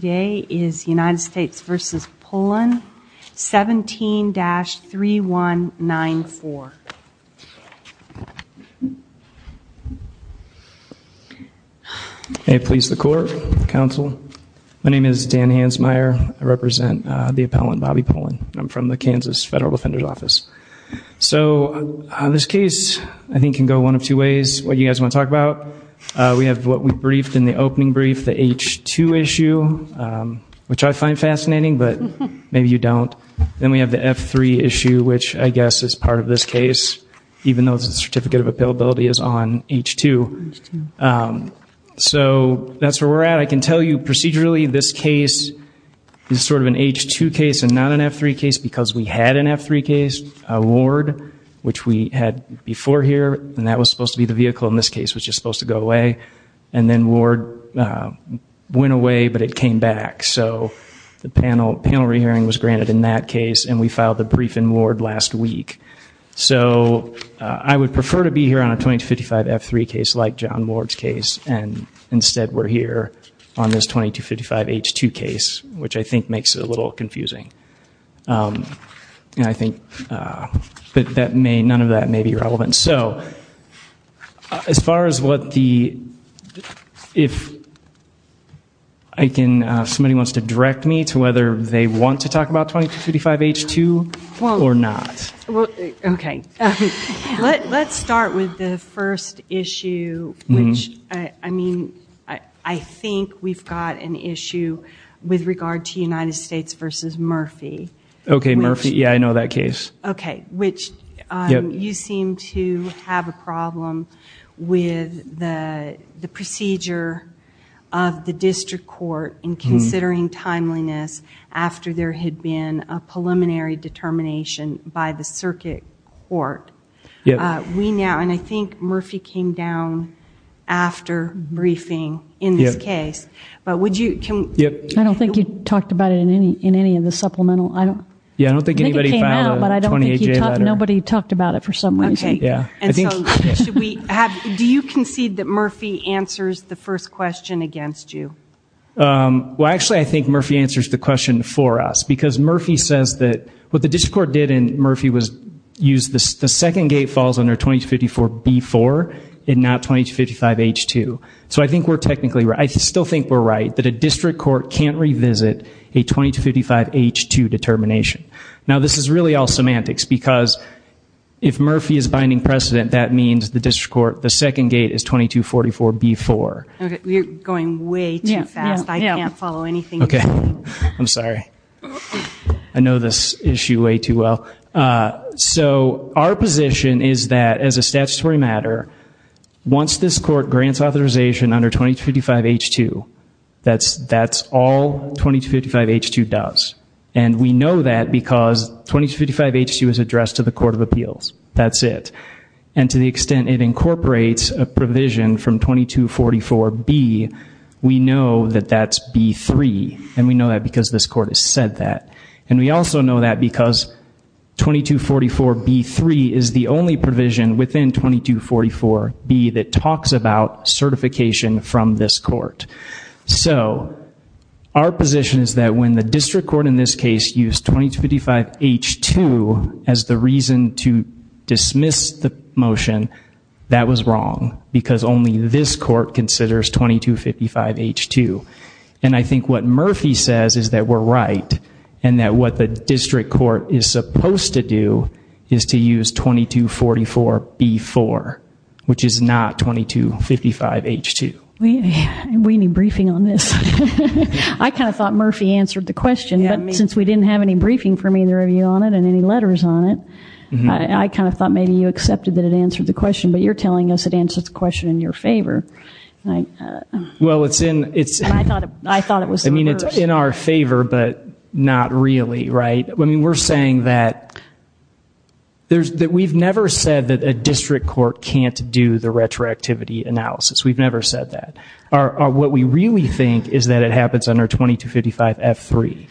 Today is United States v. Pullen, 17-3194. May it please the court, counsel. My name is Dan Hansmeier. I represent the appellant, Bobby Pullen. I'm from the Kansas Federal Defender's Office. So this case, I think, can go one of two ways. What you guys want to talk about, we have what we briefed in the opening brief, the H-2 issue, which I find fascinating, but maybe you don't. Then we have the F-3 issue, which I guess is part of this case, even though the Certificate of Appellability is on H-2. So that's where we're at. I can tell you procedurally this case is sort of an H-2 case and not an F-3 case because we had an F-3 case, a ward, which we had before here, and that was supposed to be the vehicle in this case, which is supposed to go away. And then ward went away, but it came back. So the panel re-hearing was granted in that case, and we filed the brief in ward last week. So I would prefer to be here on a 2255 F-3 case like John Ward's case, and instead we're here on this 2255 H-2 case, which I think makes it a little confusing. And I think none of that may be relevant. So as far as what the, if somebody wants to direct me to whether they want to talk about 2255 H-2 or not. Okay. Let's start with the first issue, which I mean, I think we've got an issue with regard to United States v. Murphy. Okay, Murphy. Yeah, I know that case. Okay, which you seem to have a problem with the procedure of the district court in considering timeliness after there had been a preliminary determination by the circuit court. We now, and I think Murphy came down after briefing in this case, but would you, can... I don't think you talked about it in any of the supplemental. Yeah, I don't think anybody filed a 28-J letter. I think it came out, but I don't think you talked, nobody talked about it for some reason. Okay, and so should we have, do you concede that Murphy answers the first question against you? Well, actually I think Murphy answers the question for us, because Murphy says that what the district court did in Murphy was use the second gate falls under 2254 B-4 and not 2255 H-2. So I think we're technically right. I still think we're right that a district court can't revisit a 2255 H-2 determination. Now this is really all semantics, because if Murphy is binding precedent, that means the district court, the second gate is 2244 B-4. Okay, you're going way too fast. I can't follow anything you're saying. Okay, I'm sorry. I know this issue way too well. So our position is that as a statutory matter, once this court grants authorization under 2255 H-2, that's all 2255 H-2 does. And we know that because 2255 H-2 is addressed to the Court of Appeals. That's it. And to the extent it incorporates a provision from 2244 B, we know that that's B-3. And we know that because this court has said that. And we also know that because 2244 B-3 is the only provision within 2244 B that talks about certification from this court. So our position is that when the district court in this case used 2255 H-2 as the reason to dismiss the motion, that was wrong. Because only this court considers 2255 H-2. And I think what Murphy says is that we're right. And that what the district court is supposed to do is to use 2244 B-4, which is not 2255 H-2. We need briefing on this. I kind of thought Murphy answered the question. But since we didn't have any briefing from either of you on it and any letters on it, I kind of thought maybe you accepted that it answered the question. But you're telling us it answered the question in your favor. Well, it's in our favor, but not really, right? I mean, we're saying that we've never said that a district court can't do the retroactivity analysis. We've never said that. What we really think is that it happens under 2255 F-3.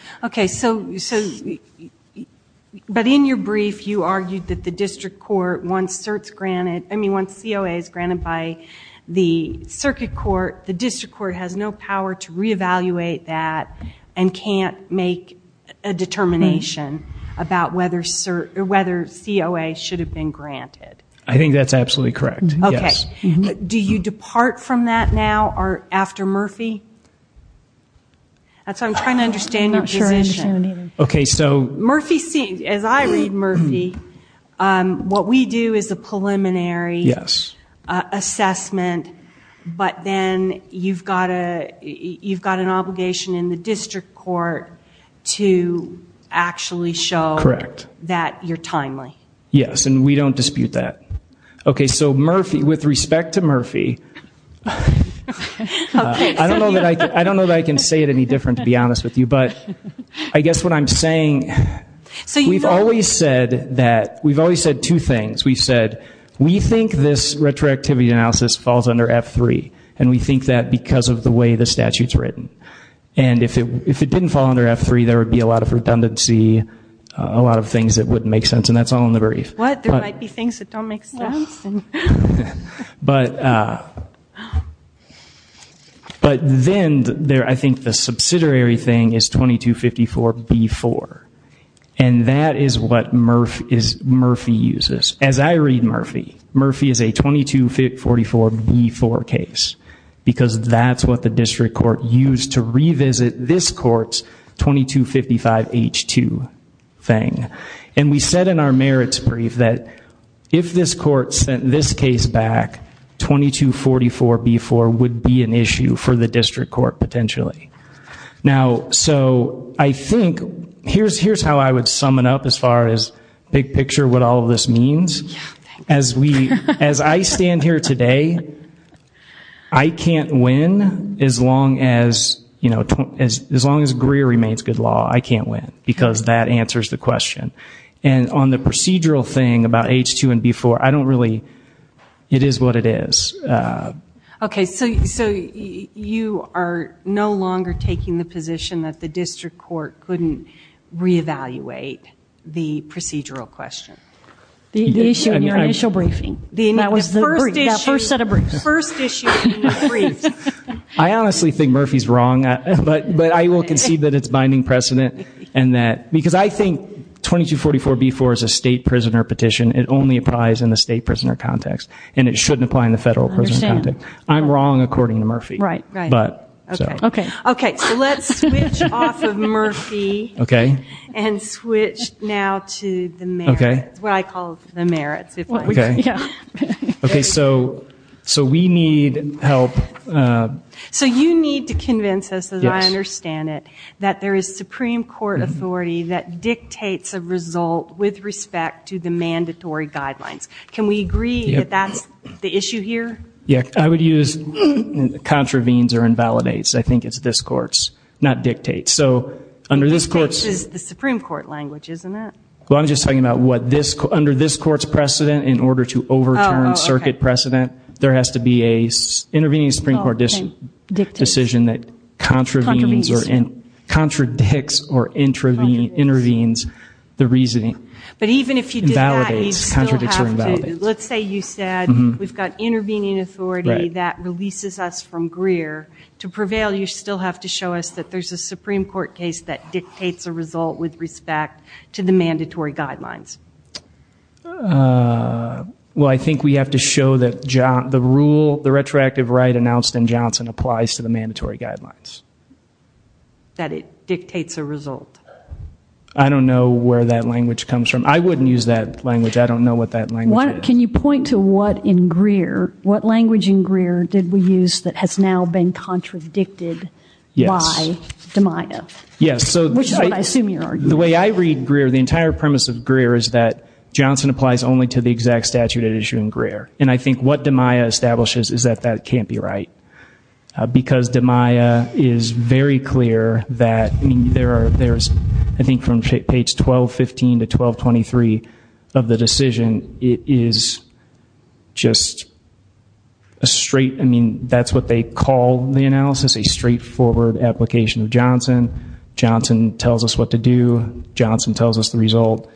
Okay. But in your brief, you argued that the district court, once COA is granted by the circuit court, the district court has no power to reevaluate that and can't make a determination about whether COA should have been granted. I think that's absolutely correct, yes. Okay. Do you depart from that now after Murphy? I'm trying to understand your position. I'm not sure I understand it either. As I read Murphy, what we do is a preliminary assessment, but then you've got an obligation in the district court to actually show that you're timely. Yes, and we don't dispute that. Okay, so Murphy, with respect to Murphy, I don't know that I can say it any different, to be honest with you, but I guess what I'm saying, we've always said two things. We've said we think this retroactivity analysis falls under F-3, and we think that because of the way the statute's written. And if it didn't fall under F-3, there would be a lot of redundancy, a lot of things that wouldn't make sense, and that's all in the brief. What? There might be things that don't make sense? But then I think the subsidiary thing is 2254B-4, and that is what Murphy uses. As I read Murphy, Murphy is a 2254B-4 case because that's what the district court used to revisit this court's 2255H-2 thing. And we said in our merits brief that if this court sent this case back, 2244B-4 would be an issue for the district court potentially. Now, so I think here's how I would sum it up as far as big picture what all of this means. As I stand here today, I can't win as long as Greer remains good law. I can't win because that answers the question. And on the procedural thing about H-2 and B-4, I don't really ñ it is what it is. Okay. So you are no longer taking the position that the district court couldn't reevaluate the procedural question? The issue in your initial briefing. That was the brief, that first set of briefs. The first issue in your brief. I honestly think Murphy's wrong, but I will concede that it's binding precedent because I think 2244B-4 is a state prisoner petition. It only applies in the state prisoner context, and it shouldn't apply in the federal prisoner context. I'm wrong according to Murphy. Okay. So let's switch off of Murphy and switch now to the merits, what I call the merits. Okay. So we need help. So you need to convince us, as I understand it, that there is Supreme Court authority that dictates a result with respect to the mandatory guidelines. Can we agree that that's the issue here? Yeah. I would use contravenes or invalidates. I think it's this court's, not dictates. So under this court's ñ That's the Supreme Court language, isn't it? Well, I'm just talking about under this court's precedent, in order to overturn circuit precedent, there has to be an intervening Supreme Court decision that contravenes or contradicts or intervenes the reasoning. But even if you did that, you'd still have to. Invalidates, contradicts or invalidates. Let's say you said we've got intervening authority that releases us from Greer. To prevail, you still have to show us that there's a Supreme Court case that dictates a result with respect to the mandatory guidelines. Well, I think we have to show that the rule, the retroactive right announced in Johnson, applies to the mandatory guidelines. That it dictates a result. I don't know where that language comes from. I wouldn't use that language. I don't know what that language is. Can you point to what in Greer, did we use that has now been contradicted by DiMaia? Yes. Which is what I assume you're arguing. The way I read Greer, the entire premise of Greer, is that Johnson applies only to the exact statute at issue in Greer. And I think what DiMaia establishes is that that can't be right. Because DiMaia is very clear that there's, I think, from page 1215 to 1223 of the decision, it is just a straight, I mean, that's what they call the analysis, a straightforward application of Johnson. Johnson tells us what to do. Johnson tells us the result.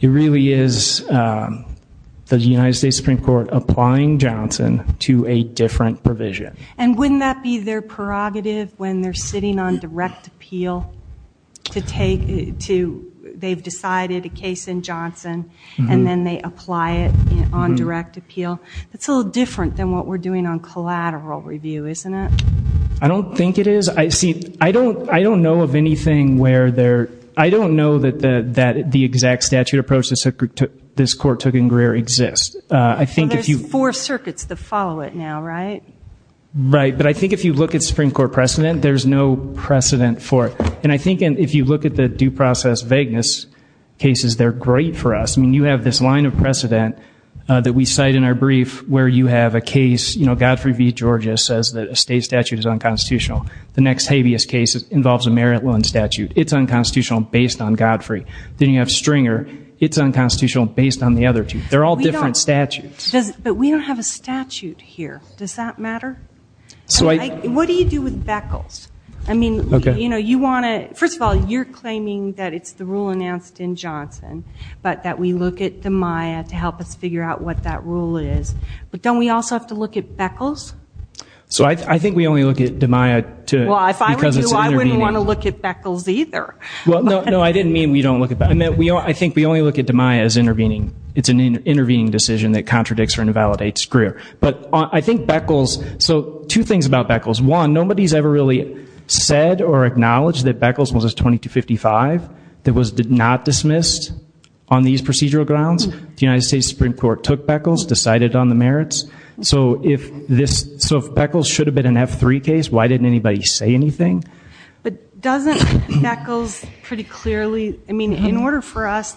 It really is the United States Supreme Court applying Johnson to a different provision. And wouldn't that be their prerogative when they're sitting on direct appeal to take, they've decided a case in Johnson and then they apply it on direct appeal? That's a little different than what we're doing on collateral review, isn't it? I don't think it is. See, I don't know of anything where there, I don't know that the exact statute approach this Court took in Greer exists. There's four circuits that follow it now, right? Right. But I think if you look at Supreme Court precedent, there's no precedent for it. And I think if you look at the due process vagueness cases, they're great for us. I mean, you have this line of precedent that we cite in our brief where you have a case, Godfrey v. Georgia says that a state statute is unconstitutional. The next habeas case involves a merit loan statute. It's unconstitutional based on Godfrey. Then you have Stringer. It's unconstitutional based on the other two. They're all different statutes. But we don't have a statute here. Does that matter? What do you do with Beckles? I mean, you want to, first of all, you're claiming that it's the rule announced in Johnson, but that we look at DiMaia to help us figure out what that rule is. But don't we also have to look at Beckles? So I think we only look at DiMaia because it's intervening. Well, if I were you, I wouldn't want to look at Beckles either. Well, no, I didn't mean we don't look at Beckles. I think we only look at DiMaia as intervening. It's an intervening decision that contradicts or invalidates Greer. But I think Beckles, so two things about Beckles. One, nobody's ever really said or acknowledged that Beckles was a 2255 that was not dismissed on these procedural grounds. The United States Supreme Court took Beckles, decided on the merits. So if Beckles should have been an F3 case, why didn't anybody say anything? But doesn't Beckles pretty clearly, I mean, in order for us,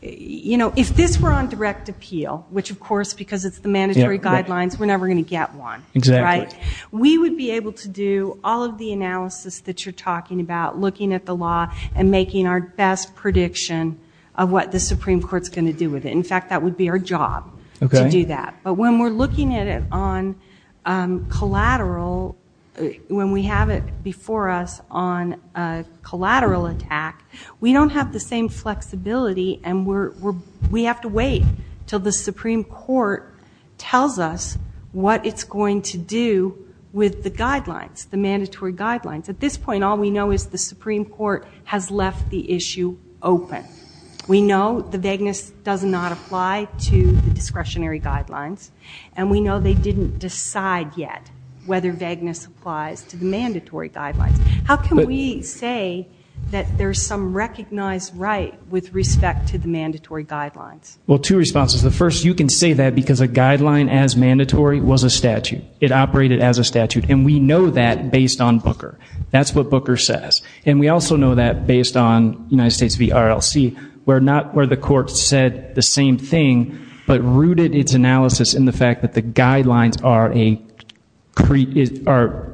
you know, if this were on direct appeal, which, of course, because it's the mandatory guidelines, we're never going to get one, right? We would be able to do all of the analysis that you're talking about, looking at the law and making our best prediction of what the Supreme Court's going to do with it. In fact, that would be our job to do that. But when we're looking at it on collateral, when we have it before us on a collateral attack, we don't have the same flexibility and we have to wait until the Supreme Court tells us what it's going to do with the guidelines, the mandatory guidelines. At this point, all we know is the Supreme Court has left the issue open. We know the vagueness does not apply to the discretionary guidelines, and we know they didn't decide yet whether vagueness applies to the mandatory guidelines. How can we say that there's some recognized right with respect to the mandatory guidelines? Well, two responses. The first, you can say that because a guideline as mandatory was a statute. It operated as a statute, and we know that based on Booker. That's what Booker says. And we also know that based on United States v. RLC, where the court said the same thing but rooted its analysis in the fact that the guidelines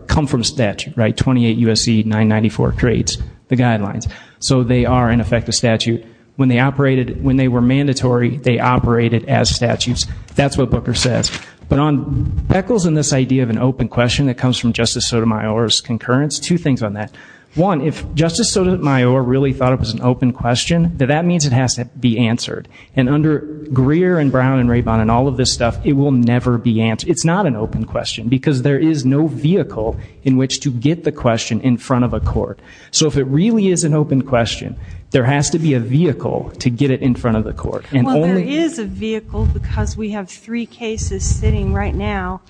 come from statute, 28 U.S.C. 994 creates the guidelines. So they are, in effect, a statute. When they were mandatory, they operated as statutes. That's what Booker says. But on echoes in this idea of an open question that comes from Justice Sotomayor's concurrence, two things on that. One, if Justice Sotomayor really thought it was an open question, that means it has to be answered. And under Greer and Brown and Rabin and all of this stuff, it will never be answered. It's not an open question because there is no vehicle in which to get the question in front of a court. So if it really is an open question, there has to be a vehicle to get it in front of the court. Well, there is a vehicle because we have three cases sitting right now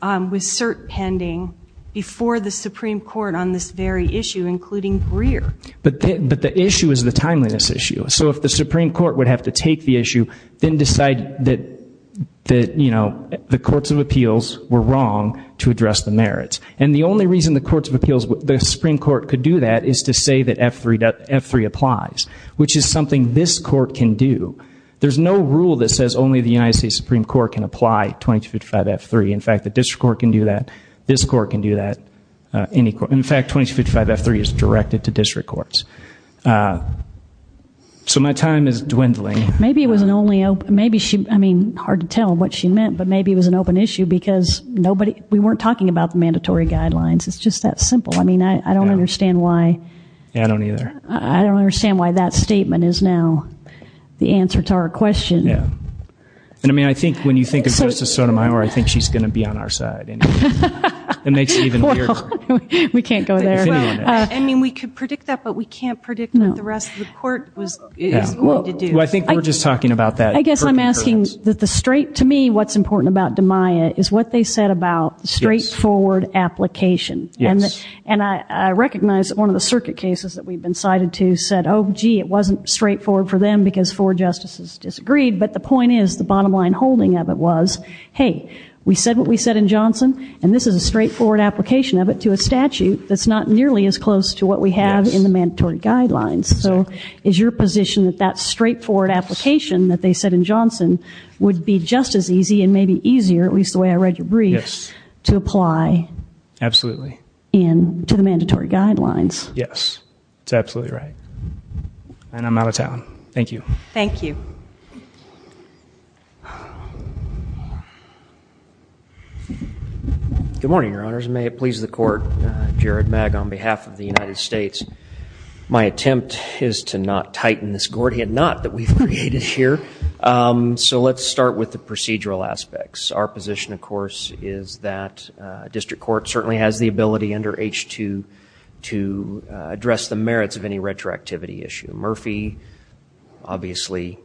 with cert pending before the Supreme Court on this very issue, including Greer. But the issue is the timeliness issue. So if the Supreme Court would have to take the issue, then decide that, you know, the courts of appeals were wrong to address the merits. And the only reason the courts of appeals, the Supreme Court could do that is to say that F3 applies, which is something this court can do. There's no rule that says only the United States Supreme Court can apply 2255-F3. In fact, the district court can do that. This court can do that. In fact, 2255-F3 is directed to district courts. So my time is dwindling. Maybe it was an only open, maybe she, I mean, hard to tell what she meant, but maybe it was an open issue because we weren't talking about the mandatory guidelines. It's just that simple. I mean, I don't understand why. Yeah, I don't either. I don't understand why that statement is now the answer to our question. Yeah. And, I mean, I think when you think of Justice Sotomayor, I think she's going to be on our side. It makes it even weirder. We can't go there. I mean, we could predict that, but we can't predict what the rest of the court is willing to do. Well, I think we're just talking about that. I guess I'm asking that the straight, to me, what's important about DiMaia is what they said about straightforward application. Yes. And I recognize that one of the circuit cases that we've been cited to said, oh, gee, it wasn't straightforward for them because four justices disagreed, but the point is the bottom line holding of it was, hey, we said what we said in Johnson, and this is a straightforward application of it to a statute that's not nearly as close to what we have in the mandatory guidelines. So is your position that that straightforward application that they said in Johnson would be just as easy and maybe easier, at least the way I read your brief, to apply to the mandatory guidelines? Yes. That's absolutely right. And I'm out of time. Thank you. Thank you. Good morning, Your Honors. May it please the Court. Jared Magg on behalf of the United States. My attempt is to not tighten this Gordian knot that we've created here. So let's start with the procedural aspects. Our position, of course, is that district court certainly has the ability under H2 to address the merits of any retroactivity issue. Murphy obviously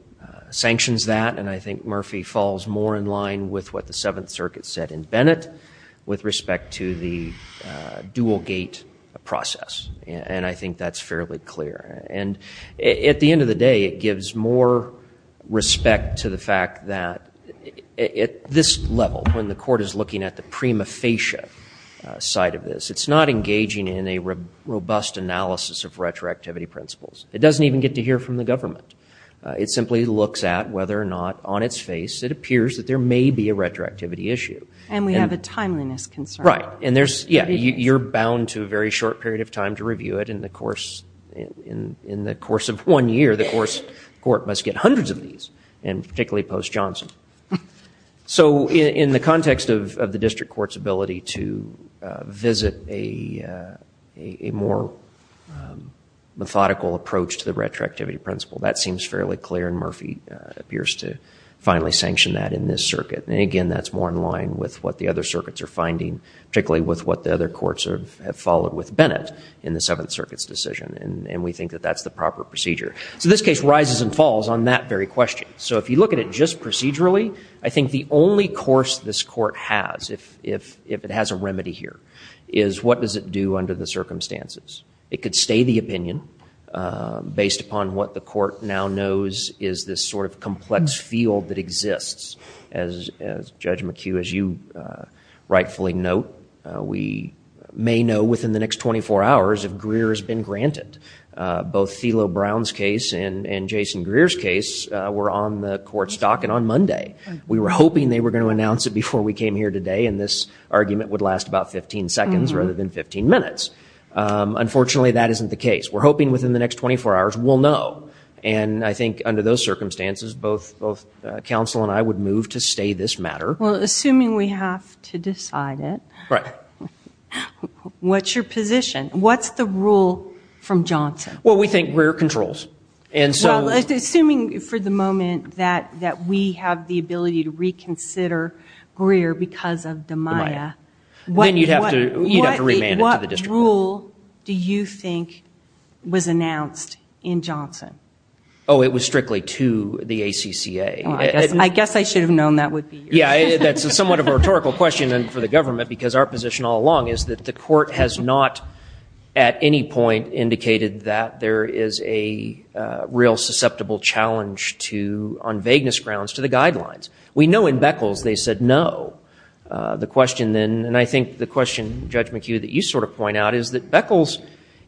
sanctions that, and I think Murphy falls more in line with what the Seventh Circuit said in Bennett with respect to the dual-gate process. And I think that's fairly clear. And at the end of the day, it gives more respect to the fact that at this level, when the Court is looking at the prima facie side of this, it's not engaging in a robust analysis of retroactivity principles. It doesn't even get to hear from the government. It simply looks at whether or not on its face it appears that there may be a retroactivity issue. And we have a timeliness concern. Right. And there's, yeah, you're bound to a very short period of time to review it. In the course of one year, the court must get hundreds of these, and particularly post-Johnson. So in the context of the district court's ability to visit a more methodical approach to the retroactivity principle, that seems fairly clear, and Murphy appears to finally sanction that in this circuit. And again, that's more in line with what the other circuits are finding, particularly with what the other courts have followed with Bennett in the Seventh Circuit's decision. And we think that that's the proper procedure. So this case rises and falls on that very question. So if you look at it just procedurally, I think the only course this court has, if it has a remedy here, is what does it do under the circumstances. It could stay the opinion based upon what the court now knows is this sort of complex field that exists. As Judge McHugh, as you rightfully note, we may know within the next 24 hours if Greer has been granted. Both Thilo Brown's case and Jason Greer's case were on the court's dock and on Monday. We were hoping they were going to announce it before we came here today, and this argument would last about 15 seconds rather than 15 minutes. Unfortunately, that isn't the case. We're hoping within the next 24 hours we'll know. And I think under those circumstances, both counsel and I would move to stay this matter. Well, assuming we have to decide it, what's your position? What's the rule from Johnson? Well, we think Greer controls. Well, assuming for the moment that we have the ability to reconsider Greer because of DiMaia, what rule do you think was announced in Johnson? Oh, it was strictly to the ACCA. I guess I should have known that would be yours. Yeah, that's somewhat of a rhetorical question for the government, because our position all along is that the court has not at any point indicated that there is a real susceptible challenge on vagueness grounds to the guidelines. We know in Beckles they said no. And I think the question, Judge McHugh, that you sort of point out is that Beckles,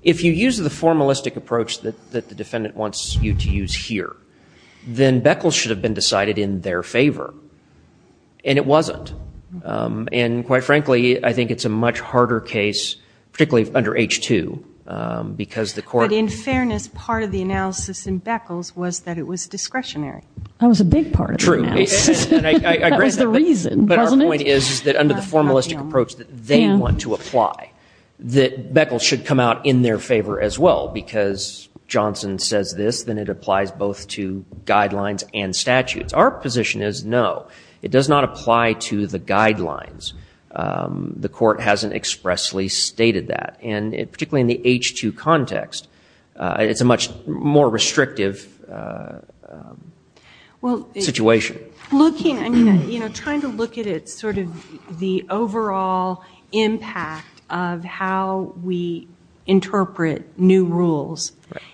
if you use the formalistic approach that the defendant wants you to use here, then Beckles should have been decided in their favor, and it wasn't. And quite frankly, I think it's a much harder case, particularly under H-2, because the court- But in fairness, part of the analysis in Beckles was that it was discretionary. That was a big part of the analysis. True. That was the reason, wasn't it? But our point is that under the formalistic approach that they want to apply, that Beckles should come out in their favor as well, because Johnson says this, then it applies both to guidelines and statutes. Our position is no. It does not apply to the guidelines. The court hasn't expressly stated that. And particularly in the H-2 context, it's a much more restrictive situation. Trying to look at it, sort of the overall impact of how we interpret new rules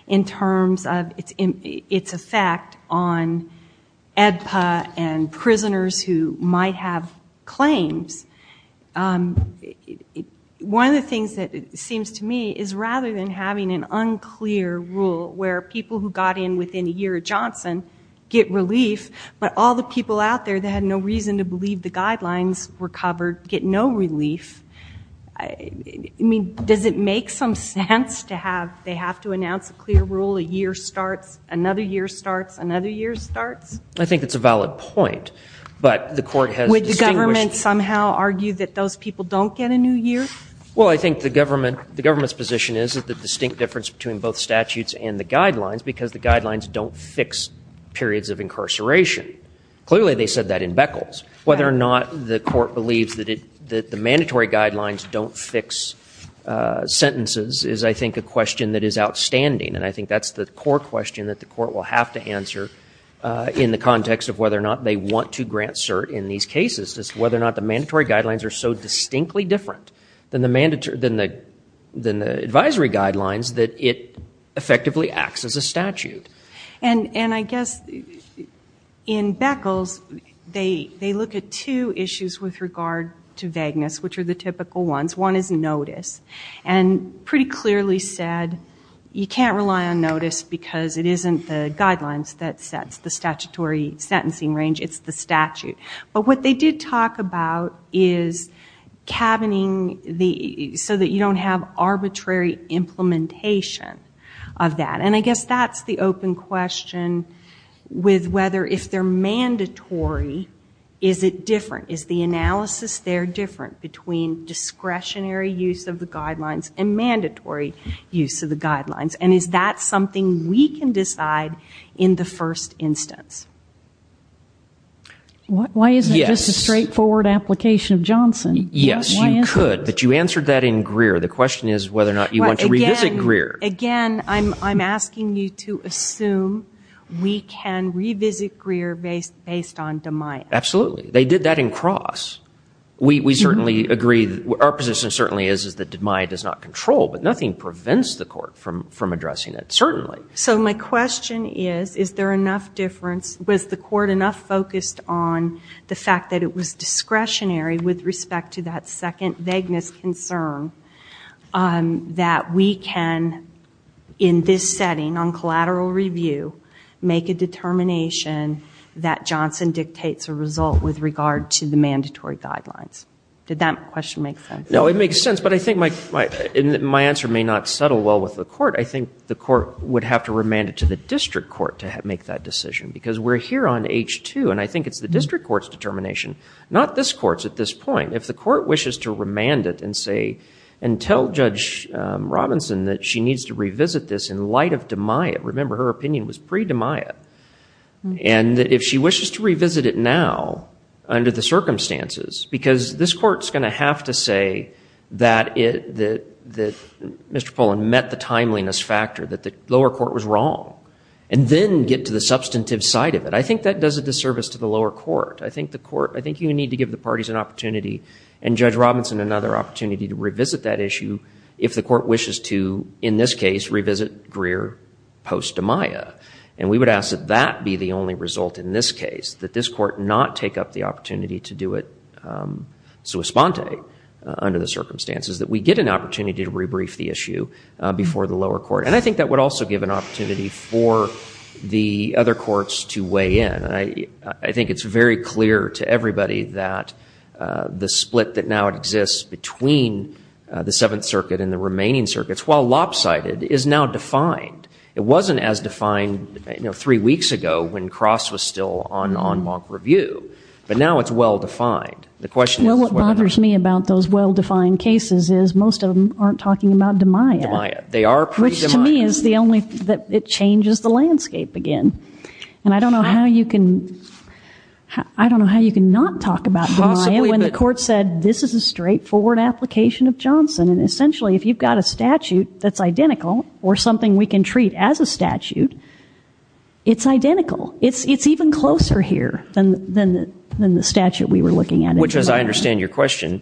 in terms of its effect on EDPA and prisoners who might have claims, one of the things that seems to me is rather than having an unclear rule where people who got in within a year of Johnson get relief, but all the people out there that had no reason to believe the guidelines were covered get no relief. I mean, does it make some sense to have they have to announce a clear rule, a year starts, another year starts, another year starts? I think it's a valid point, but the court has distinguished- Would the government somehow argue that those people don't get a new year? Well, I think the government's position is that the distinct difference between both statutes and the guidelines, because the guidelines don't fix periods of incarceration. Clearly, they said that in Beckles. Whether or not the court believes that the mandatory guidelines don't fix sentences is, I think, a question that is outstanding, and I think that's the core question that the court will have to answer in the context of whether or not they want to grant cert in these cases, is whether or not the mandatory guidelines are so distinctly different than the advisory guidelines that it effectively acts as a statute. And I guess in Beckles, they look at two issues with regard to vagueness, which are the typical ones. One is notice, and pretty clearly said you can't rely on notice because it isn't the guidelines that sets the statutory sentencing range, it's the statute. But what they did talk about is cabining, so that you don't have arbitrary implementation of that. And I guess that's the open question with whether if they're mandatory, is it different? Is the analysis there different between discretionary use of the guidelines and mandatory use of the guidelines? And is that something we can decide in the first instance? Why isn't it just a straightforward application of Johnson? Yes, you could. But you answered that in Greer. The question is whether or not you want to revisit Greer. Again, I'm asking you to assume we can revisit Greer based on DiMaia. Absolutely. They did that in Cross. We certainly agree. Our position certainly is that DiMaia does not control, but nothing prevents the court from addressing it, certainly. So my question is, is there enough difference? Was the court enough focused on the fact that it was discretionary with respect to that second vagueness concern that we can, in this setting on collateral review, make a determination that Johnson dictates a result with regard to the mandatory guidelines? Did that question make sense? No, it makes sense. But I think my answer may not settle well with the court. I think the court would have to remand it to the district court to make that decision. Because we're here on H2, and I think it's the district court's determination, not this court's at this point. If the court wishes to remand it and say, and tell Judge Robinson that she needs to revisit this in light of DiMaia, remember her opinion was pre-DiMaia, and if she wishes to revisit it now under the circumstances, because this court's going to have to say that Mr. Pollan met the discretionary vagueness factor, that the lower court was wrong, and then get to the substantive side of it. I think that does a disservice to the lower court. I think the court, I think you need to give the parties an opportunity and Judge Robinson another opportunity to revisit that issue if the court wishes to, in this case, revisit Greer post-DiMaia. And we would ask that that be the only result in this case, that this court not take up the opportunity to do it sua sponte, under the circumstances, that we get an opportunity to rebrief the issue before the lower court. And I think that would also give an opportunity for the other courts to weigh in. I think it's very clear to everybody that the split that now exists between the Seventh Circuit and the remaining circuits, while lopsided, is now defined. It wasn't as defined three weeks ago when Cross was still on en banc review, but now it's well defined. Well, what bothers me about those well-defined cases is most of them aren't talking about DiMaia, which to me is the only, it changes the landscape again. And I don't know how you can, I don't know how you can not talk about DiMaia when the court said, this is a straightforward application of Johnson. And essentially, if you've got a statute that's identical or something we can treat as a statute, it's identical. It's even closer here than the statute we were looking at. Which, as I understand your question,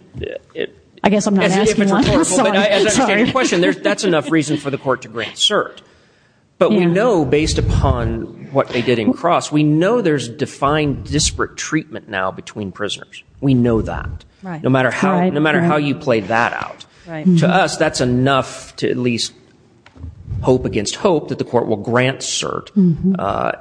I guess I'm not asking one. As I understand your question, that's enough reason for the court to grant cert. But we know, based upon what they did in Cross, we know there's defined disparate treatment now between prisoners. We know that. No matter how you play that out. To us, that's enough to at least hope against hope that the court will grant cert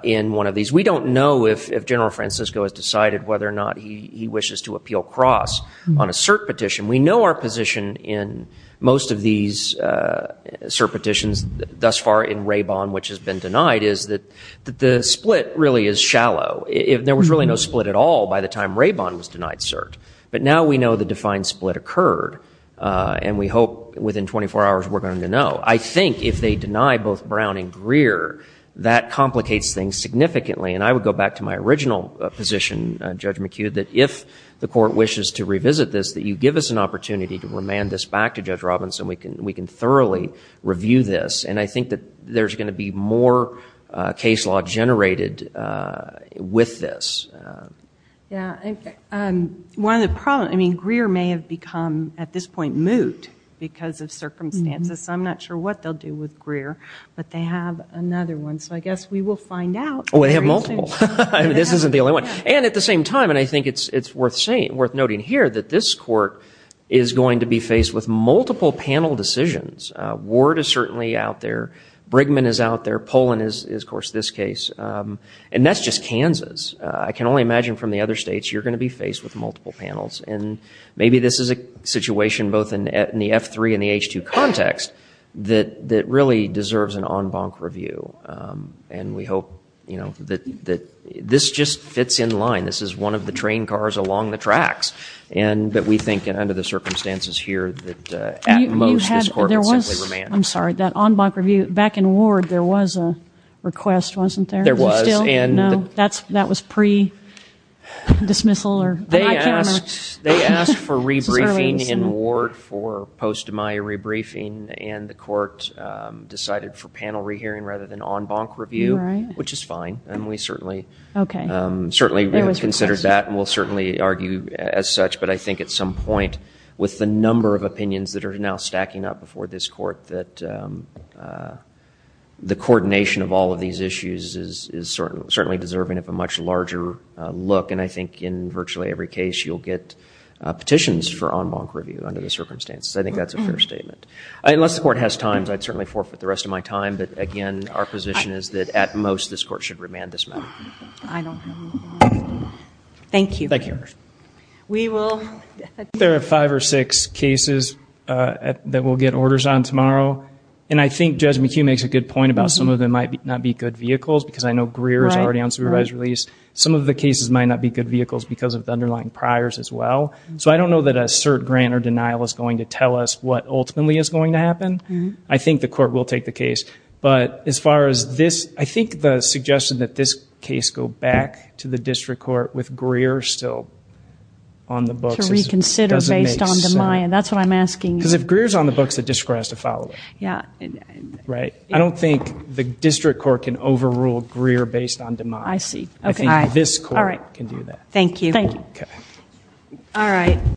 in one of these. We don't know if General Francisco has decided whether or not he wishes to appeal Cross on a cert petition. We know our position in most of these cert petitions thus far in Raybon, which has been denied, is that the split really is shallow. There was really no split at all by the time Raybon was denied cert. But now we know the defined split occurred. And we hope within 24 hours, we're going to know. I think if they deny both Brown and Greer, that complicates things significantly. And I would go back to my original position, Judge McHugh, that if the court wishes to revisit this, that you give us an opportunity to remand this back to Judge Robinson. We can thoroughly review this. And I think that there's going to be more case law generated with this. Yeah. One of the problems, I mean, Greer may have become at this point moot because of circumstances. So I'm not sure what they'll do with Greer. But they have another one. So I guess we will find out. Oh, they have multiple. This isn't the only one. And at the same time, and I think it's worth noting here, that this court is going to be faced with multiple panel decisions. Ward is certainly out there. Brigham is out there. Poland is, of course, this case. And that's just Kansas. I can only imagine from the other states, you're going to be faced with multiple panels. And maybe this is a situation both in the F3 and the H2 context that really deserves an en banc review. And we hope that this just fits in line. This is one of the train cars along the tracks. But we think, under the circumstances here, that at most this court will simply remand. I'm sorry, that en banc review, back in Ward there was a request, wasn't there? There was. No, that was pre-dismissal. They asked for re-briefing in Ward for post-Demeyer re-briefing. And the court decided for panel re-hearing rather than en banc review, which is fine. And we certainly considered that. And we'll certainly argue as such. But I think at some point, with the number of opinions that are now stacking up before this court, that the coordination of all of these issues is certainly deserving of a much larger look. And I think in virtually every case, you'll get petitions for en banc review under the circumstances. I think that's a fair statement. Unless the court has time, I'd certainly forfeit the rest of my time. But, again, our position is that at most this court should remand this matter. I don't know. Thank you. Thank you. We will. There are five or six cases that we'll get orders on tomorrow. And I think Judge McHugh makes a good point about some of them might not be good vehicles because I know Greer is already on supervised release. Some of the cases might not be good vehicles because of the underlying priors as well. So I don't know that a cert grant or denial is going to tell us what ultimately is going to happen. I think the court will take the case. But as far as this, I think the suggestion that this case go back to the district court with Greer still on the books doesn't make sense. To reconsider based on DeMaya. That's what I'm asking you. Because if Greer is on the books, the district court has to follow it. Yeah. Right. I don't think the district court can overrule Greer based on DeMaya. Oh, I see. I think this court can do that. Thank you. Thank you. Okay.